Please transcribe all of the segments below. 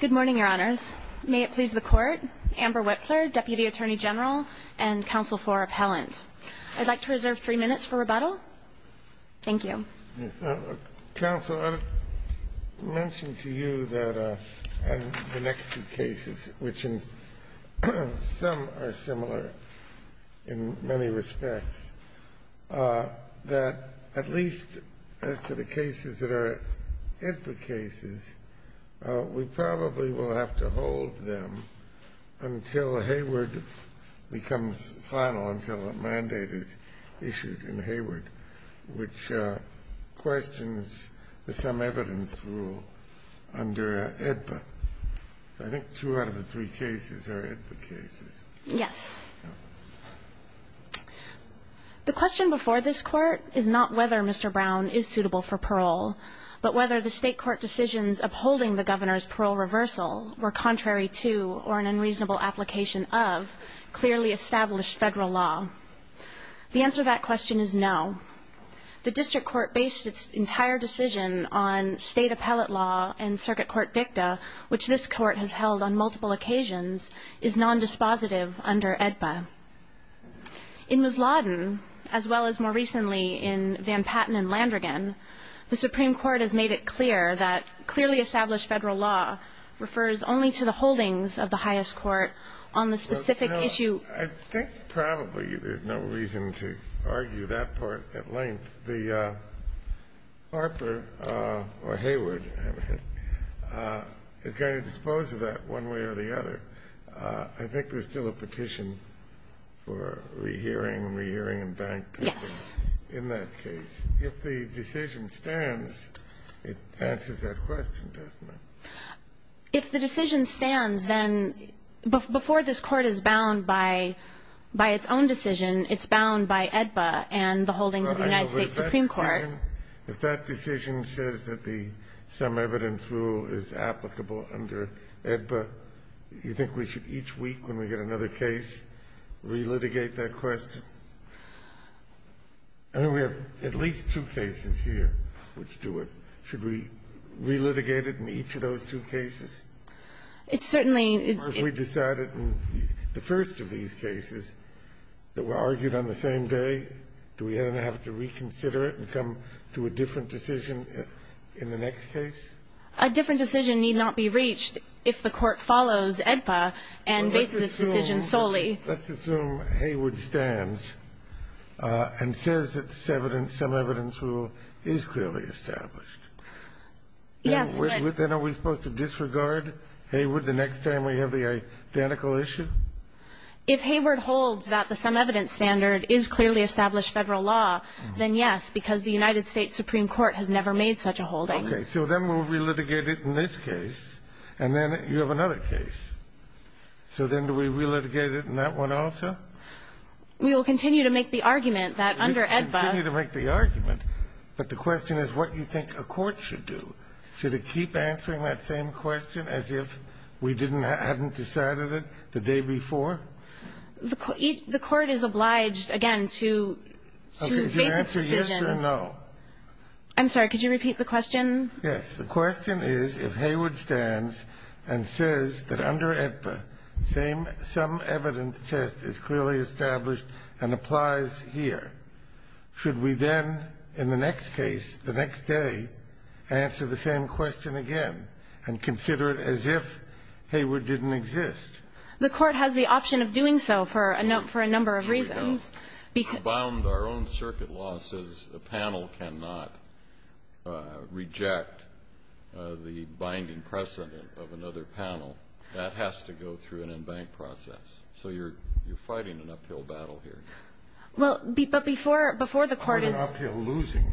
Good morning, Your Honors. May it please the Court, Amber Whipler, Deputy Attorney General and counsel for appellant. I'd like to reserve three minutes for rebuttal. Thank you. Counsel, I mentioned to you that the next two cases, which in some are similar in many respects, that at least as to the cases that are AEDPA cases, we probably will have to hold them until Hayward becomes final, until a mandate is issued in Hayward, which questions the sum evidence rule under AEDPA. I think two out of the three cases are AEDPA cases. Yes. The question before this Court is not whether Mr. Brown is suitable for parole, but whether the state court decisions upholding the governor's parole reversal were contrary to or an unreasonable application of clearly established federal law. The answer to that question is no. The district court based its entire decision on state appellate law and circuit court dicta, which this court has held on multiple occasions, is non-dispositive under AEDPA. In Ms. Lawden, as well as more recently in Van Patten and Landrigan, the Supreme Court has made it clear that clearly established federal law refers only to the holdings of the highest court on the specific issue. I think probably there's no reason to argue that part at length. The Harper or Hayward is going to dispose of that one way or the other. I think there's still a petition for rehearing, rehearing, and banking in that case. If the decision stands, it answers that question, doesn't it? If the decision stands, then before this Court is bound by its own decision, it's bound by AEDPA and the holdings of the United States Supreme Court. If that decision says that the sum evidence rule is applicable under AEDPA, you think we should each week, when we get another case, relitigate that question? I mean, we have at least two cases here which do it. Should we relitigate it in each of those two cases? It's certainly the first of these cases that were argued on the same day. Do we then have to reconsider it and come to a different decision in the next case? A different decision need not be reached if the Court follows AEDPA and bases its decision solely. Let's assume Hayward stands and says that the sum evidence rule is clearly established. Yes. Then are we supposed to disregard Hayward the next time we have the identical issue? If Hayward holds that the sum evidence standard is clearly established Federal law, then yes, because the United States Supreme Court has never made such a holding. Okay. So then we'll relitigate it in this case, and then you have another case. So then do we relitigate it in that one also? We will continue to make the argument that under AEDPA You continue to make the argument, but the question is what you think a court should do. Should it keep answering that same question as if we didn't hadn't decided it the day before? The Court is obliged, again, to base its decision Okay. If you answer yes or no. I'm sorry. Could you repeat the question? Yes. The question is if Hayward stands and says that under AEDPA, same sum evidence test is clearly established and applies here, should we then in the next case, the next day, answer the same question again and consider it as if Hayward didn't exist? The Court has the option of doing so for a number of reasons. If we want to rebound our own circuit law, says a panel cannot reject the binding precedent of another panel, that has to go through an embank process. So you're fighting an uphill battle here. Well, but before the Court is You're an uphill losing.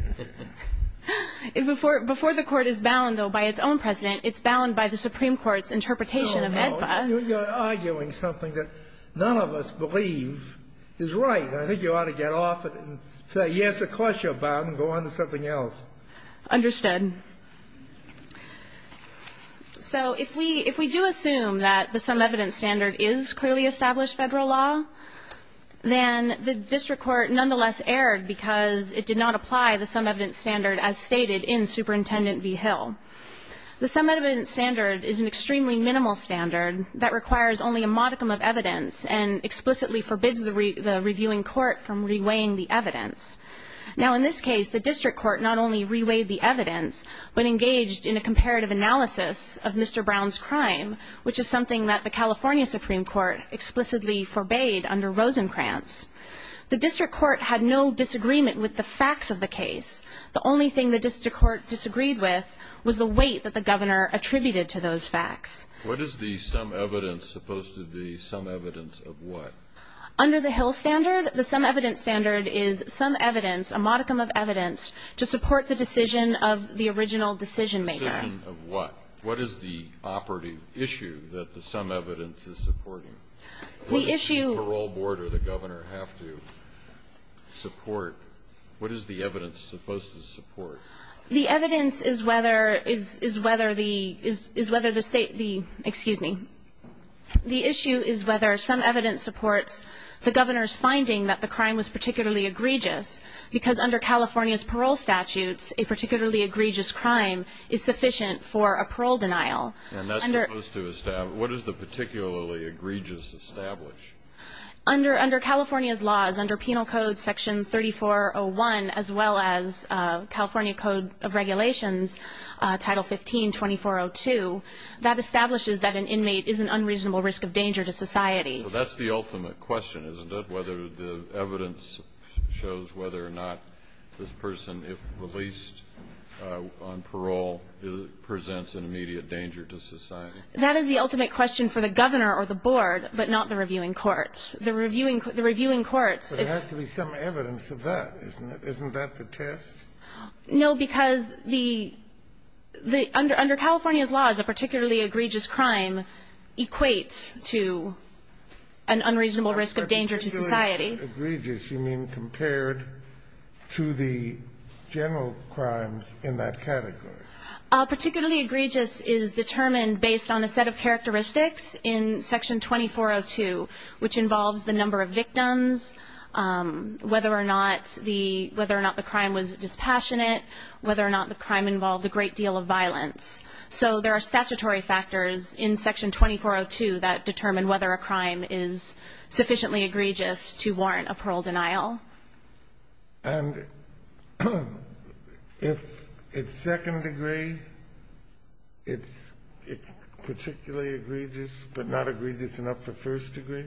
Before the Court is bound, though, by its own precedent, it's bound by the Supreme Court's interpretation of AEDPA. You're arguing something that none of us believe is right. I think you ought to get off it and say, yes, of course you're bound, and go on to something else. Understood. So if we do assume that the sum evidence standard is clearly established Federal law, then the district court nonetheless erred because it did not apply the sum evidence standard as stated in Superintendent v. Hill. The sum evidence standard is an extremely minimal standard that requires only a modicum of evidence and explicitly forbids the reviewing court from reweighing the evidence. Now, in this case, the district court not only reweighed the evidence, but engaged in a comparative analysis of Mr. Brown's crime, which is something that the California Supreme Court explicitly forbade under Rosencrantz. The district court had no disagreement with the facts of the case. The only thing the district court disagreed with was the weight that the governor attributed to those facts. What is the sum evidence supposed to be sum evidence of what? Under the Hill standard, the sum evidence standard is sum evidence, a modicum of evidence, to support the decision of the original decision maker. Decision of what? What is the operative issue that the sum evidence is supporting? The issue What does the parole board or the governor have to support? What is the evidence supposed to support? The evidence is whether the state, excuse me. The issue is whether some evidence supports the governor's finding that the crime was particularly egregious, because under California's parole statutes, a particularly egregious crime is sufficient for a parole denial. And that's supposed to establish, what is the particularly egregious establish? Under California's laws, under penal code section 3401, as well as California Code of Regulations, Title 15-2402, that establishes that an inmate is an unreasonable risk of danger to society. So that's the ultimate question, isn't it? Whether the evidence shows whether or not this person, That is the ultimate question for the governor or the board, but not the reviewing courts. The reviewing courts, if But there has to be some evidence of that, isn't it? Isn't that the test? No, because under California's laws, a particularly egregious crime equates to an unreasonable risk of danger to society. Egregious, you mean compared to the general crimes in that category? Particularly egregious is determined based on a set of characteristics in section 2402, which involves the number of victims, whether or not the crime was dispassionate, whether or not the crime involved a great deal of violence. So there are statutory factors in section 2402 that determine whether a crime is sufficiently egregious to warrant a parole denial. And if it's second degree, it's particularly egregious, but not egregious enough for first degree?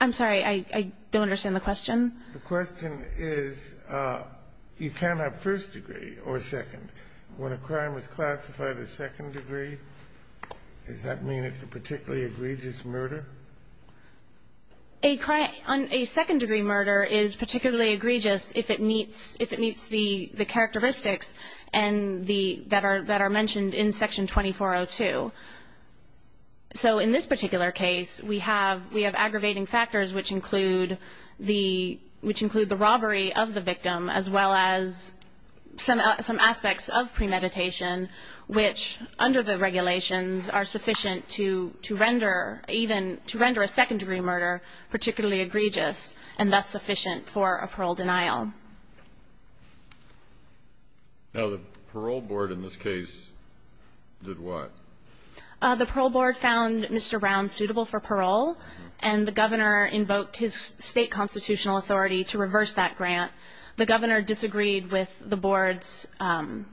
I'm sorry, I don't understand the question. The question is, you can't have first degree or second. When a crime is classified as second degree, does that mean it's a particularly egregious murder? A second degree murder is particularly egregious if it meets the characteristics that are mentioned in section 2402. So in this particular case, we have aggravating factors which include the robbery of the victim, as well as some aspects of premeditation, which under the regulations are sufficient to render even a second degree murder particularly egregious and thus sufficient for a parole denial. Now the parole board in this case did what? The parole board found Mr. Brown suitable for parole, and the governor invoked his state constitutional authority to reverse that grant. The governor disagreed with the board's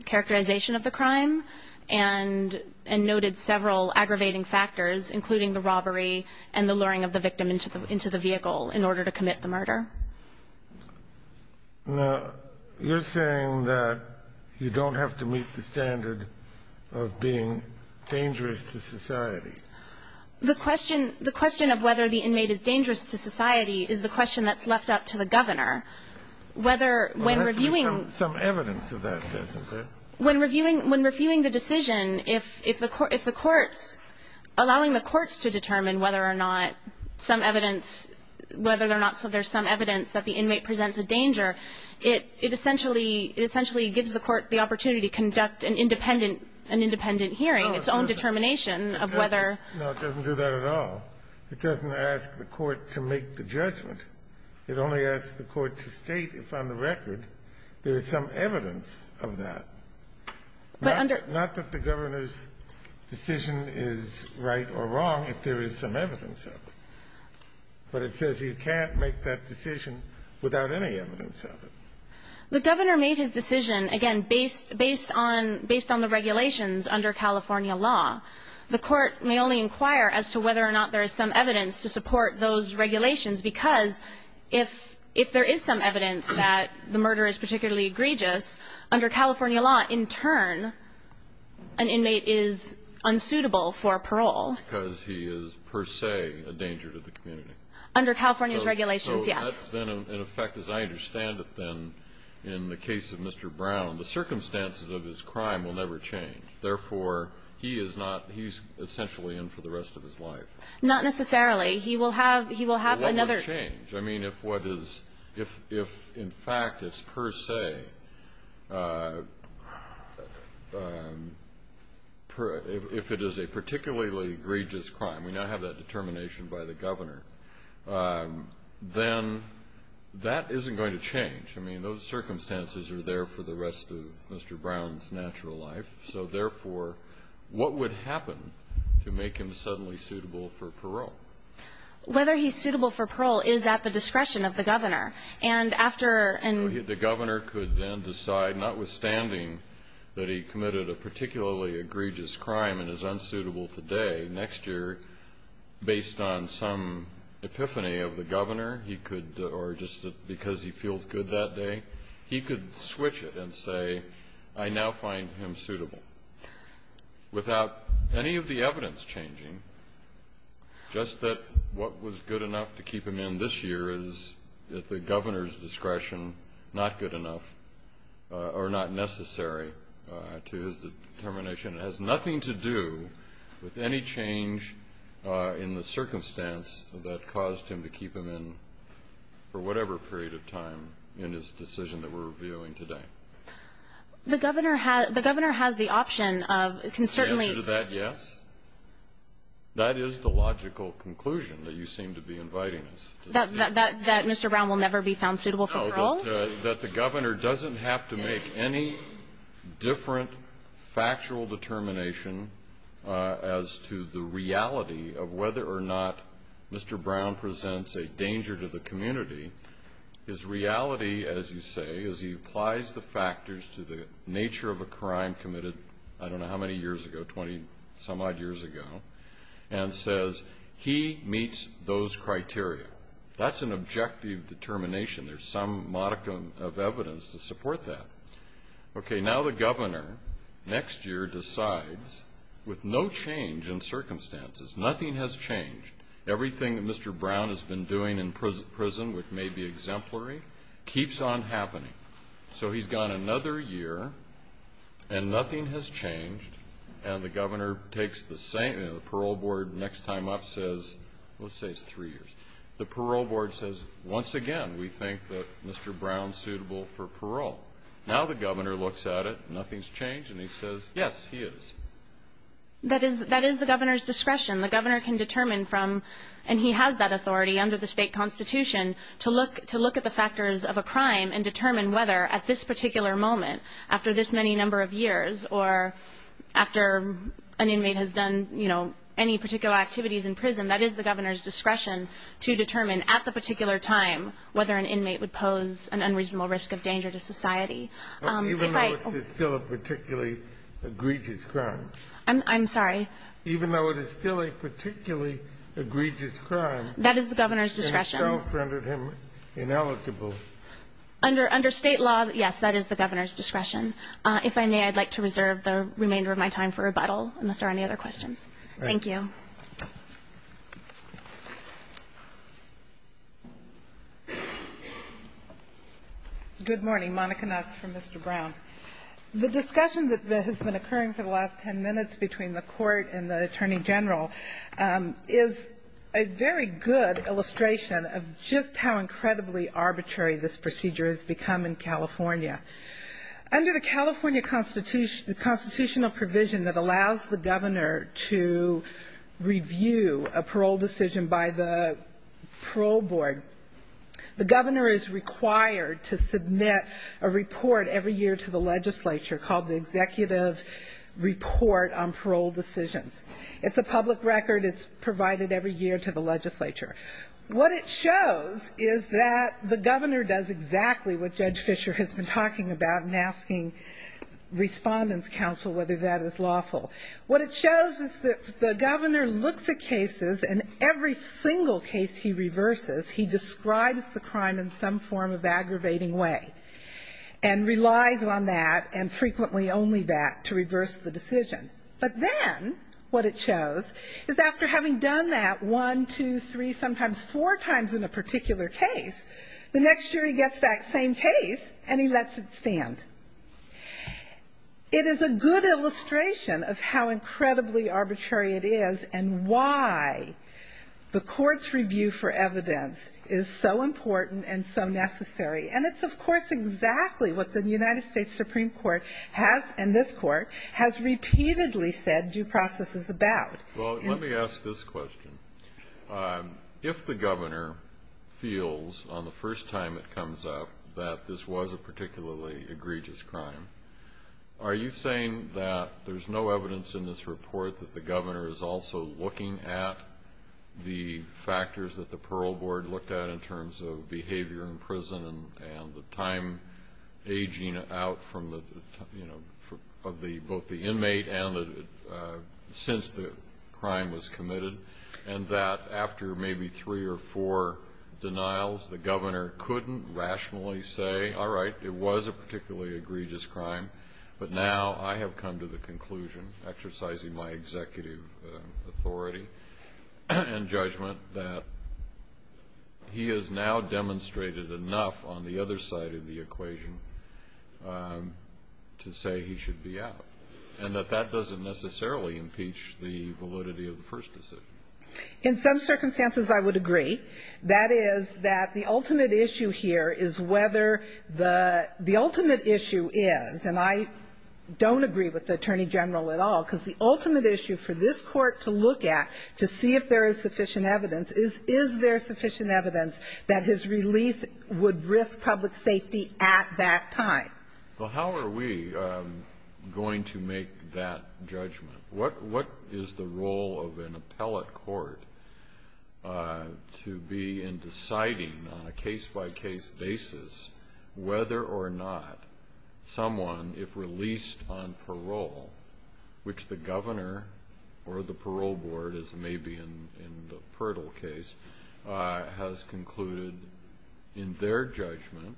characterization of the crime, and noted several aggravating factors, including the robbery and the luring of the victim into the vehicle in order to commit the murder. Now, you're saying that you don't have to meet the standard of being dangerous to society. The question of whether the inmate is dangerous to society is the question that's left up to the governor, whether when reviewing- There has to be some evidence of that, doesn't there? When reviewing the decision, if the courts, allowing the courts to determine whether or not some evidence, whether or not there's some evidence that the inmate presents a danger, it essentially gives the court the opportunity to conduct an independent hearing, its own determination of whether- No, it doesn't do that at all. It doesn't ask the court to make the judgment. It only asks the court to state if, on the record, there is some evidence of that. Not that the governor's decision is right or wrong, if there is some evidence of it. But it says you can't make that decision without any evidence of it. The governor made his decision, again, based on the regulations under California law. The court may only inquire as to whether or not there is some evidence to support those regulations. Because if there is some evidence that the murder is particularly egregious, under California law, in turn, an inmate is unsuitable for parole. Because he is, per se, a danger to the community. Under California's regulations, yes. So that's been in effect, as I understand it then, in the case of Mr. Brown. The circumstances of his crime will never change. Therefore, he is not he's essentially in for the rest of his life. Not necessarily. He will have another- He will never change. I mean, if what is, if in fact it's per se, if it is a particularly egregious crime, we now have that determination by the governor, then that isn't going to change. I mean, those circumstances are there for the rest of Mr. Brown's natural life. So, therefore, what would happen to make him suddenly suitable for parole? Whether he's suitable for parole is at the discretion of the governor. And after an- The governor could then decide, notwithstanding that he committed a particularly egregious crime and is unsuitable today, next year, based on some epiphany of the governor, he could, or just because he feels good that day, he could switch it and say, I now find him suitable. Without any of the evidence changing, just that what was good enough to keep him in this year is at the governor's discretion, not good enough or not necessary to his determination. It has nothing to do with any change in the circumstance that caused him to keep him in for whatever period of time in his decision that we're reviewing today. The governor has the option of, it can certainly- The answer to that, yes. That is the logical conclusion that you seem to be inviting us. That Mr. Brown will never be found suitable for parole? That the governor doesn't have to make any different factual determination as to the reality of whether or not Mr. Brown presents a danger to the community. His reality, as you say, is he applies the factors to the nature of a crime committed, I don't know how many years ago, 20 some odd years ago, and says he meets those criteria. That's an objective determination. There's some modicum of evidence to support that. Okay, now the governor, next year, decides with no change in circumstances, nothing has changed. Everything that Mr. Brown has been doing in prison, which may be exemplary, keeps on happening. So he's gone another year, and nothing has changed, and the governor takes the same, and the parole board next time up says, let's say it's three years. The parole board says, once again, we think that Mr. Brown's suitable for parole. Now the governor looks at it, nothing's changed, and he says, yes, he is. That is the governor's discretion. The governor can determine from, and he has that authority under the state constitution, to look at the factors of a crime and determine whether at this particular moment, after this many number of years, or after an inmate has done any particular activities in prison, that is the governor's discretion to determine at the particular time whether an inmate would pose an unreasonable risk of danger to society. If I- Even though it's still a particularly egregious crime. I'm sorry? Even though it is still a particularly egregious crime. That is the governor's discretion. And it's self-rendered him ineligible. Under state law, yes, that is the governor's discretion. If I may, I'd like to reserve the remainder of my time for rebuttal, unless there are any other questions. Thank you. Good morning, Monica Knotts for Mr. Brown. The discussion that has been occurring for the last ten minutes between the court and the attorney general is a very good illustration of just how incredibly arbitrary this procedure has become in California. Under the California constitutional provision that allows the governor to review a parole decision by the parole board, the governor is required to submit a report every year to the legislature called the Executive Report on Parole Decisions. It's a public record. It's provided every year to the legislature. What it shows is that the governor does exactly what Judge Fisher has been talking about in asking Respondent's Counsel whether that is lawful. What it shows is that the governor looks at cases, and in every single case he reverses, he describes the crime in some form of aggravating way, and relies on that, and frequently only that, to reverse the decision. But then, what it shows is after having done that one, two, three, sometimes four times in a particular case, the next jury gets that same case, and he lets it stand. It is a good illustration of how incredibly arbitrary it is and why the court's review for evidence is so important and so necessary. And it's, of course, exactly what the United States Supreme Court has, and this court, has repeatedly said due process is about. Well, let me ask this question. If the governor feels, on the first time it comes up, that this was a particularly egregious crime, are you saying that there's no evidence in this report that the governor is also looking at the factors that the Pearl Board looked at in terms of behavior in prison and the time aging out from the, you know, of the, both the inmate and the, since the crime was committed? And that after maybe three or four denials, the governor couldn't rationally say, all right, it was a particularly egregious crime, but now I have come to the conclusion, exercising my executive authority and judgment, that he has now demonstrated enough on the other side of the equation to say he should be out. And that that doesn't necessarily impeach the validity of the first decision. In some circumstances, I would agree. That is, that the ultimate issue here is whether the, the ultimate issue is, and I don't agree with the Attorney General at all, because the ultimate issue for this court to look at to see if there is sufficient evidence is, is there sufficient evidence that his release would risk public safety at that time? Well, how are we going to make that judgment? What, what is the role of an appellate court to be in deciding on a case-by-case basis whether or not someone, if released on parole, which the governor or the parole board, as may be in, in the Pirtle case, has concluded in their judgment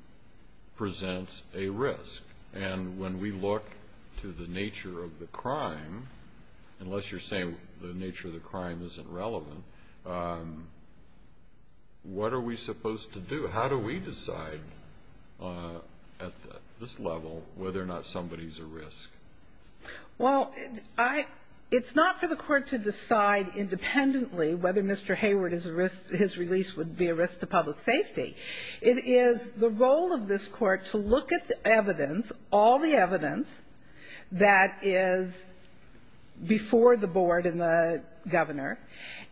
presents a risk. And when we look to the nature of the crime, unless you're saying the nature of the crime isn't relevant, what are we supposed to do? How do we decide at this level whether or not somebody's a risk? Well, I, it's not for the court to decide independently whether Mr. Hayward is a risk, his release would be a risk to public safety. It is the role of this court to look at the evidence, all the evidence, that is before the board and the governor,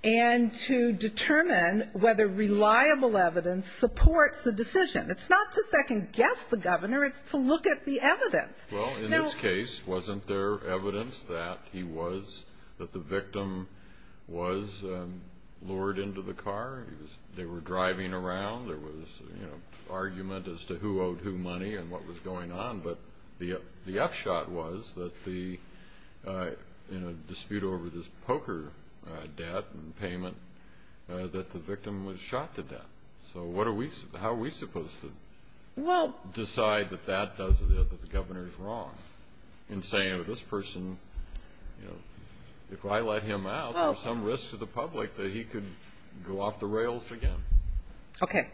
and to determine whether reliable evidence supports the decision. It's not to second guess the governor, it's to look at the evidence. Well, in this case, wasn't there evidence that he was, that the victim was lured into the car? They were driving around, there was, you know, argument as to who owed who money and what was going on, but the upshot was that the, you know, dispute over this poker debt and payment, that the victim was shot to death. So what are we, how are we supposed to- Well- Decide that that doesn't, that the governor's wrong in saying, this person, you know, if I let him out, there's some risk to the public that he could go off the rails again. Okay,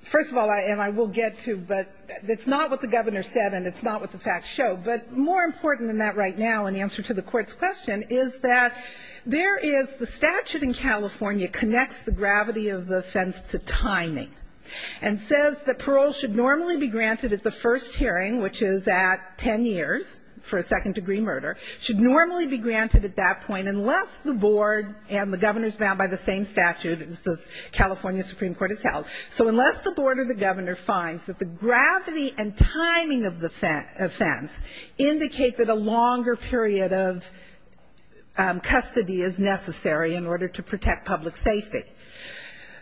first of all, and I will get to, but it's not what the governor said, and it's not what the facts show, but more important than that right now, in answer to the court's question, is that there is, the statute in California connects the gravity of the offense to timing. And says that parole should normally be granted at the first hearing, which is at ten years for a second degree murder, should normally be granted at that point unless the board and the governor's bound by the same statute as the California Supreme Court has held. So unless the board or the governor finds that the gravity and timing of the offense indicate that a longer period of custody is necessary in order to protect public safety.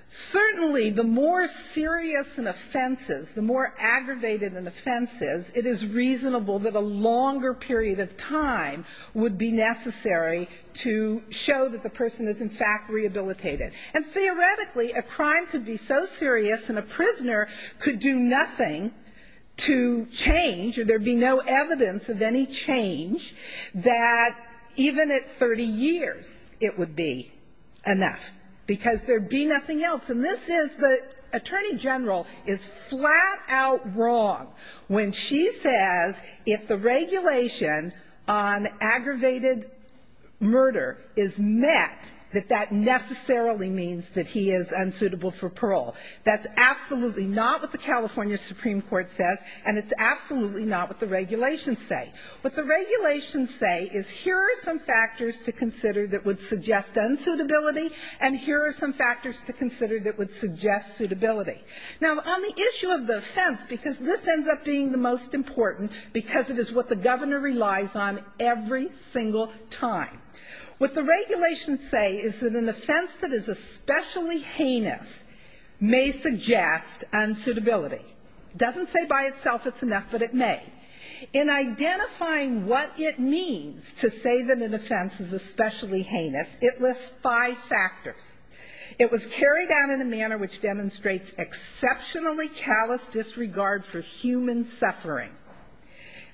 Certainly, the more serious an offense is, the more aggravated an offense is, it is reasonable that a longer period of time would be necessary to show that the person is, in fact, rehabilitated. And theoretically, a crime could be so serious, and a prisoner could do nothing to change, or there'd be no evidence of any change, that even at 30 years, it would be enough, because there'd be nothing else. And this is, the Attorney General is flat out wrong when she says if the regulation on aggravated murder is met, that that necessarily means that he is unsuitable for parole. That's absolutely not what the California Supreme Court says, and it's absolutely not what the regulations say. What the regulations say is here are some factors to consider that would suggest unsuitability, and here are some factors to consider that would suggest suitability. Now, on the issue of the offense, because this ends up being the most important, because it is what the governor relies on every single time. What the regulations say is that an offense that is especially heinous may suggest unsuitability. Doesn't say by itself it's enough, but it may. In identifying what it means to say that an offense is especially heinous, it lists five factors. It was carried out in a manner which demonstrates exceptionally callous disregard for human suffering.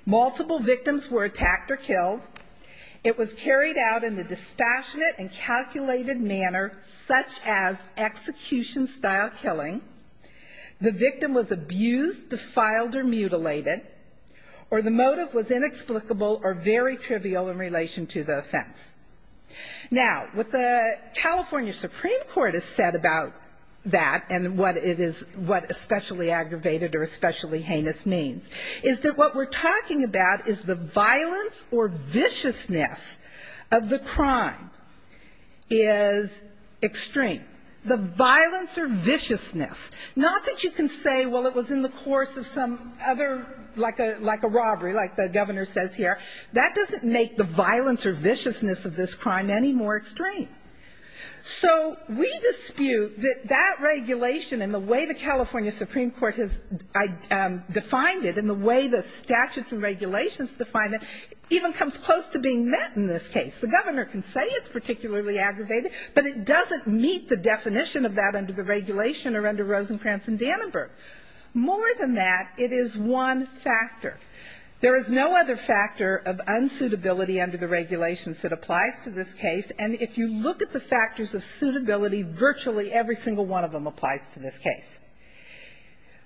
Multiple victims were attacked or killed. It was carried out in a dispassionate and calculated manner such as execution-style killing. The victim was abused, defiled, or mutilated. Or the motive was inexplicable or very trivial in relation to the offense. Now, what the California Supreme Court has said about that and what it is, what especially aggravated or especially heinous means, is that what we're talking about is the violence or viciousness of the crime is extreme. The violence or viciousness, not that you can say, well, it was in the course of some other, like a robbery, like the governor says here. That doesn't make the violence or viciousness of this crime any more extreme. So we dispute that that regulation and the way the California Supreme Court has defined it, and the way the statutes and regulations define it, even comes close to being met in this case. The governor can say it's particularly aggravated, but it doesn't meet the definition of that under the regulation or under Rosencrantz and Dannenberg. More than that, it is one factor. There is no other factor of unsuitability under the regulations that applies to this case. And if you look at the factors of suitability, virtually every single one of them applies to this case.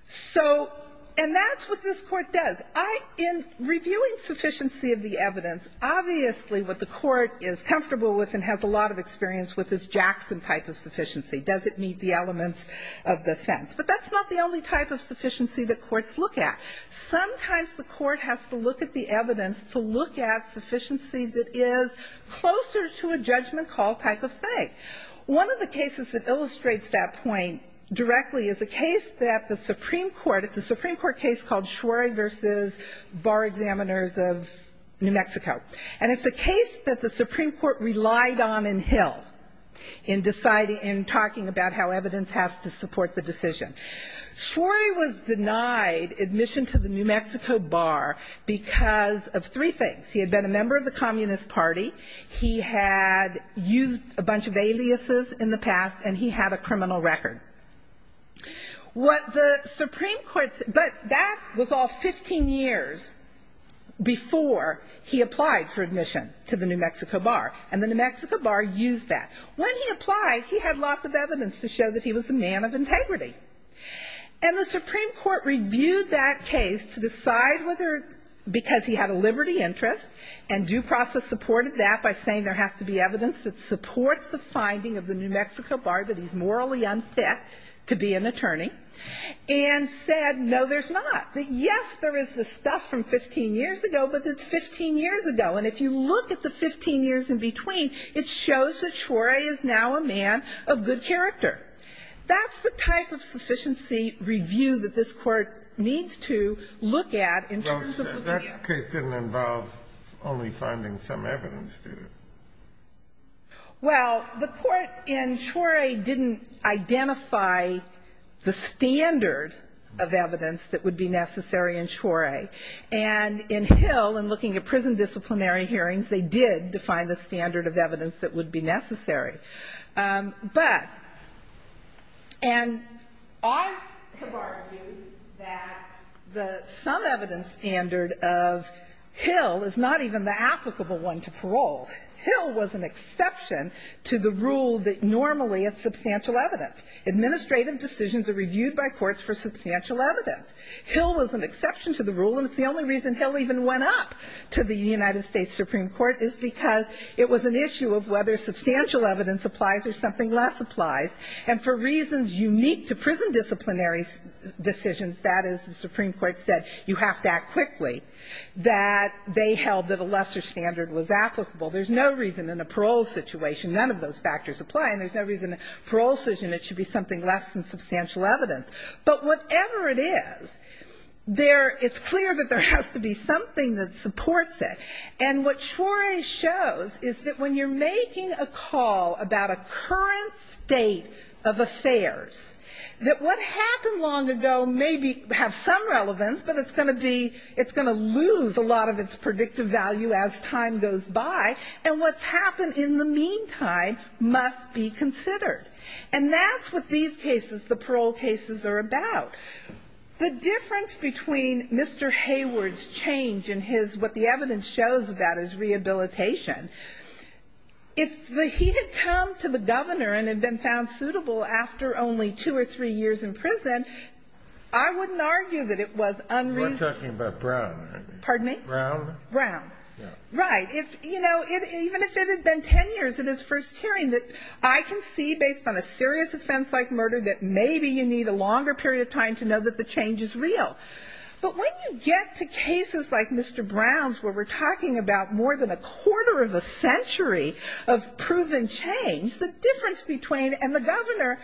So, and that's what this Court does. I, in reviewing sufficiency of the evidence, obviously what the Court is comfortable with and has a lot of experience with is Jackson-type of sufficiency. Does it meet the elements of the offense? But that's not the only type of sufficiency that courts look at. Sometimes the court has to look at the evidence to look at sufficiency that is closer to a judgment call type of thing. One of the cases that illustrates that point directly is a case that the Supreme Court, it's a Supreme Court case called Schwory v. Bar Examiners of New Mexico. And it's a case that the Supreme Court relied on in Hill in deciding, in talking about how evidence has to support the decision. Schwory was denied admission to the New Mexico Bar because of three things. He had been a member of the Communist Party. He had used a bunch of aliases in the past, and he had a criminal record. What the Supreme Court, but that was all 15 years before he applied for admission to the New Mexico Bar. And the New Mexico Bar used that. When he applied, he had lots of evidence to show that he was a man of integrity. And the Supreme Court reviewed that case to decide whether, because he had a liberty interest, and due process supported that by saying there has to be evidence that supports the finding of the New Mexico Bar that he's morally unfit to be an attorney, and said, no, there's not. That yes, there is the stuff from 15 years ago, but it's 15 years ago. And if you look at the 15 years in between, it shows that Schwory is now a man of good character. That's the type of sufficiency review that this court needs to look at in terms of the media. That case didn't involve only finding some evidence, did it? Well, the court in Schwory didn't identify the standard of evidence that would be necessary in Schwory. And in Hill, in looking at prison disciplinary hearings, they did define the standard of evidence that would be necessary. And I have argued that the sum evidence standard of Hill is not even the applicable one to parole. Hill was an exception to the rule that normally is substantial evidence. Administrative decisions are reviewed by courts for substantial evidence. Hill was an exception to the rule, and it's the only reason Hill even went up to the United States Supreme Court, is because it was an issue of whether substantial evidence applies or something less applies. And for reasons unique to prison disciplinary decisions, that is, the Supreme Court said you have to act quickly, that they held that a lesser standard was applicable. There's no reason in a parole situation none of those factors apply, and there's no reason in a parole situation it should be something less than substantial evidence. But whatever it is, there, it's clear that there has to be something that supports it. And what Schwory shows is that when you're making a call about a current state of affairs, that what happened long ago may have some relevance, but it's going to be, it's going to lose a lot of its predictive value as time goes by. And what's happened in the meantime must be considered. And that's what these cases, the parole cases, are about. The difference between Mr. Hayward's change in his, what the evidence shows about his rehabilitation, if he had come to the governor and had been found suitable after only two or three years in prison, I wouldn't argue that it was unreasonable. We're talking about Brown, aren't we? Pardon me? Brown? Brown. Right. If, you know, even if it had been ten years in his first hearing, that I can see, based on a serious offense like murder, that maybe you need a longer period of time to know that the change is real. But when you get to cases like Mr. Brown's, where we're talking about more than a quarter of a century of proven change, the difference between, and the governor,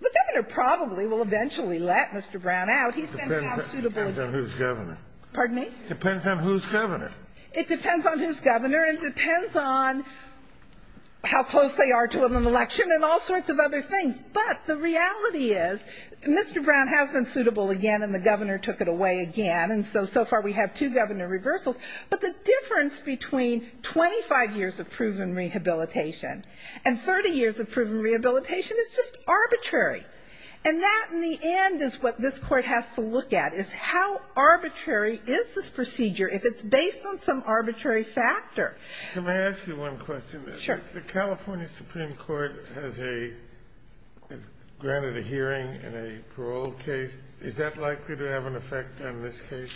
the governor probably will eventually let Mr. Brown out. He's been found suitable again. It depends on whose governor. Pardon me? It depends on whose governor. It depends on whose governor, and it depends on how close they are to an election and all sorts of other things. But the reality is, Mr. Brown has been suitable again, and the governor took it away again, and so, so far we have two governor reversals. But the difference between 25 years of proven rehabilitation and 30 years of proven rehabilitation is just arbitrary. And that, in the end, is what this court has to look at, is how arbitrary is this case, based on some arbitrary factor. Can I ask you one question? Sure. The California Supreme Court has a granted a hearing in a parole case. Is that likely to have an effect on this case?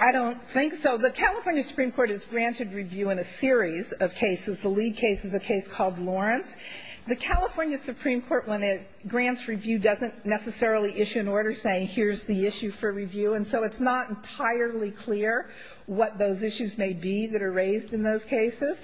I don't think so. The California Supreme Court has granted review in a series of cases. The lead case is a case called Lawrence. The California Supreme Court, when it grants review, doesn't necessarily issue an order saying here's the issue for review. And so it's not entirely clear what those issues may be that are raised in those cases.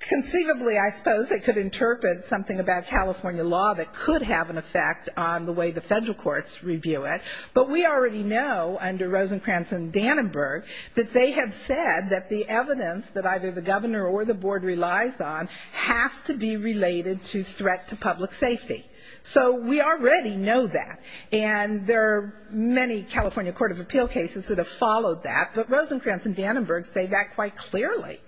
Conceivably, I suppose it could interpret something about California law that could have an effect on the way the federal courts review it. But we already know, under Rosencrantz and Dannenberg, that they have said that the evidence that either the governor or the board relies on has to be related to threat to public safety. So we already know that. And there are many California court of appeal cases that have followed that. But Rosencrantz and Dannenberg say that quite clearly.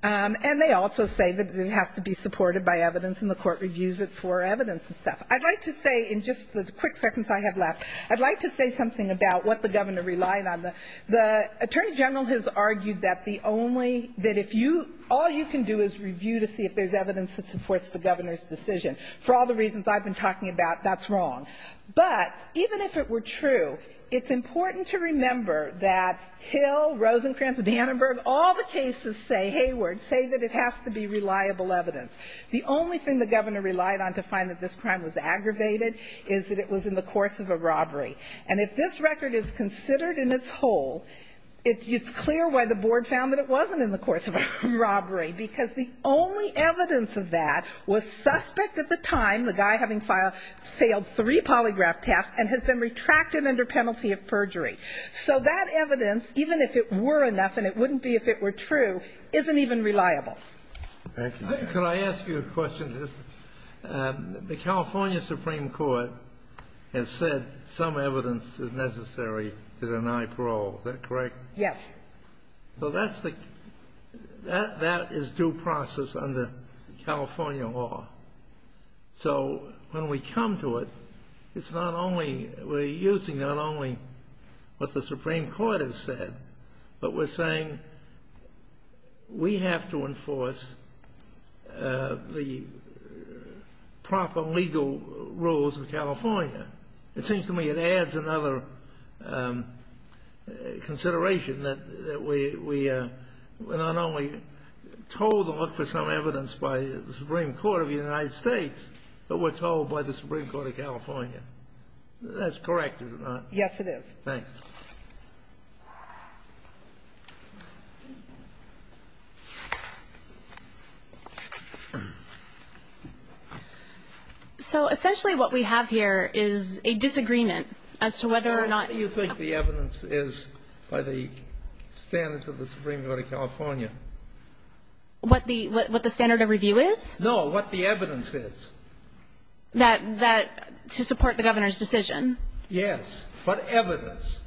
And they also say that it has to be supported by evidence, and the court reviews it for evidence and stuff. I'd like to say, in just the quick seconds I have left, I'd like to say something about what the governor relied on. The attorney general has argued that the only – that if you – all you can do is review to see if there's evidence that supports the governor's decision. For all the reasons I've been talking about, that's wrong. But even if it were true, it's important to remember that Hill, Rosencrantz, Dannenberg, all the cases say – Hayward – say that it has to be reliable evidence. The only thing the governor relied on to find that this crime was aggravated is that it was in the course of a robbery. And if this record is considered in its whole, it's clear why the board found that it wasn't in the course of a robbery, because the only evidence of that was suspect at the time, the guy having failed three polygraph tests and has been retracted under penalty of perjury. So that evidence, even if it were enough and it wouldn't be if it were true, isn't even reliable. Thank you. Could I ask you a question, just – the California Supreme Court has said some evidence is necessary to deny parole. Is that correct? Yes. So that's the – that is due process under California law. So when we come to it, it's not only – we're using not only what the Supreme Court has said, but we're saying we have to enforce the proper legal rules of California. It seems to me it adds another consideration that we are not only told to look for some court of the United States, but we're told by the Supreme Court of California. That's correct, is it not? Yes, it is. Thanks. So essentially what we have here is a disagreement as to whether or not – How do you think the evidence is by the standards of the Supreme Court of California? What the standard of review is? No, what the evidence is. That – that – to support the Governor's decision? Yes. What evidence?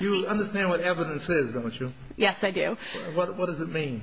You understand what evidence is, don't you? Yes, I do. What does it mean?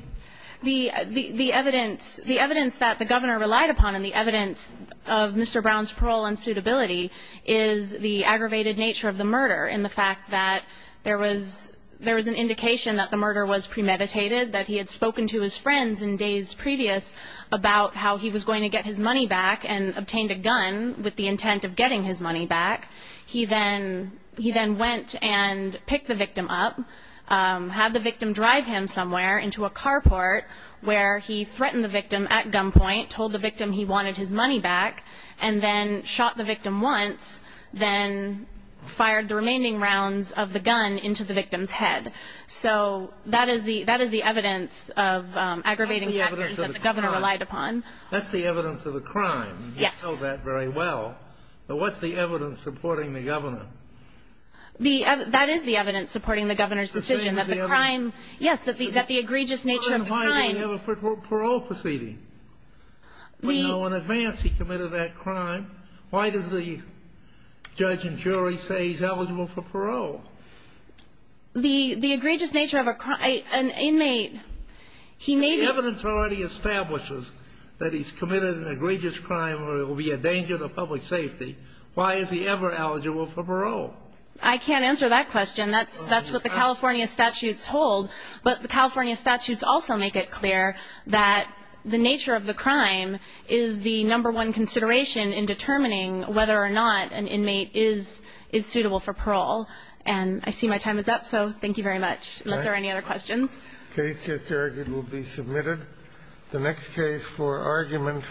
The – the evidence – the evidence that the Governor relied upon and the evidence of Mr. Brown's parole and suitability is the aggravated nature of the murder and the fact that there was – there was an indication that the murder was premeditated, that he had spoken to his friends in days previous about how he was going to get his money back and obtained a gun with the intent of getting his money back. He then – he then went and picked the victim up, had the victim drive him somewhere into a carport where he threatened the victim at gunpoint, told the victim he wanted his money back, and then shot the victim once, then fired the remaining rounds of the gun into the victim's head. So that is the – that is the evidence of aggravating factors that the Governor relied upon. That's the evidence of the crime. Yes. You know that very well. But what's the evidence supporting the Governor? The – that is the evidence supporting the Governor's decision, that the crime – yes, that the – that the egregious nature of the crime – So then why didn't he have a parole proceeding? We know in advance he committed that crime. Why does the judge and jury say he's eligible for parole? The – the egregious nature of a – an inmate, he may be – The evidence already establishes that he's committed an egregious crime where it will be a danger to public safety. Why is he ever eligible for parole? I can't answer that question. That's – that's what the California statutes hold. But the California statutes also make it clear that the nature of the crime is the number one consideration in determining whether or not an inmate is – is suitable for parole. And I see my time is up. So thank you very much. Unless there are any other questions. All right. The case just argued will be submitted. The next case for argument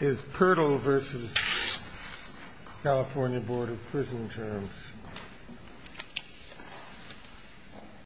is Pirtle v. California Board of Prison Terms.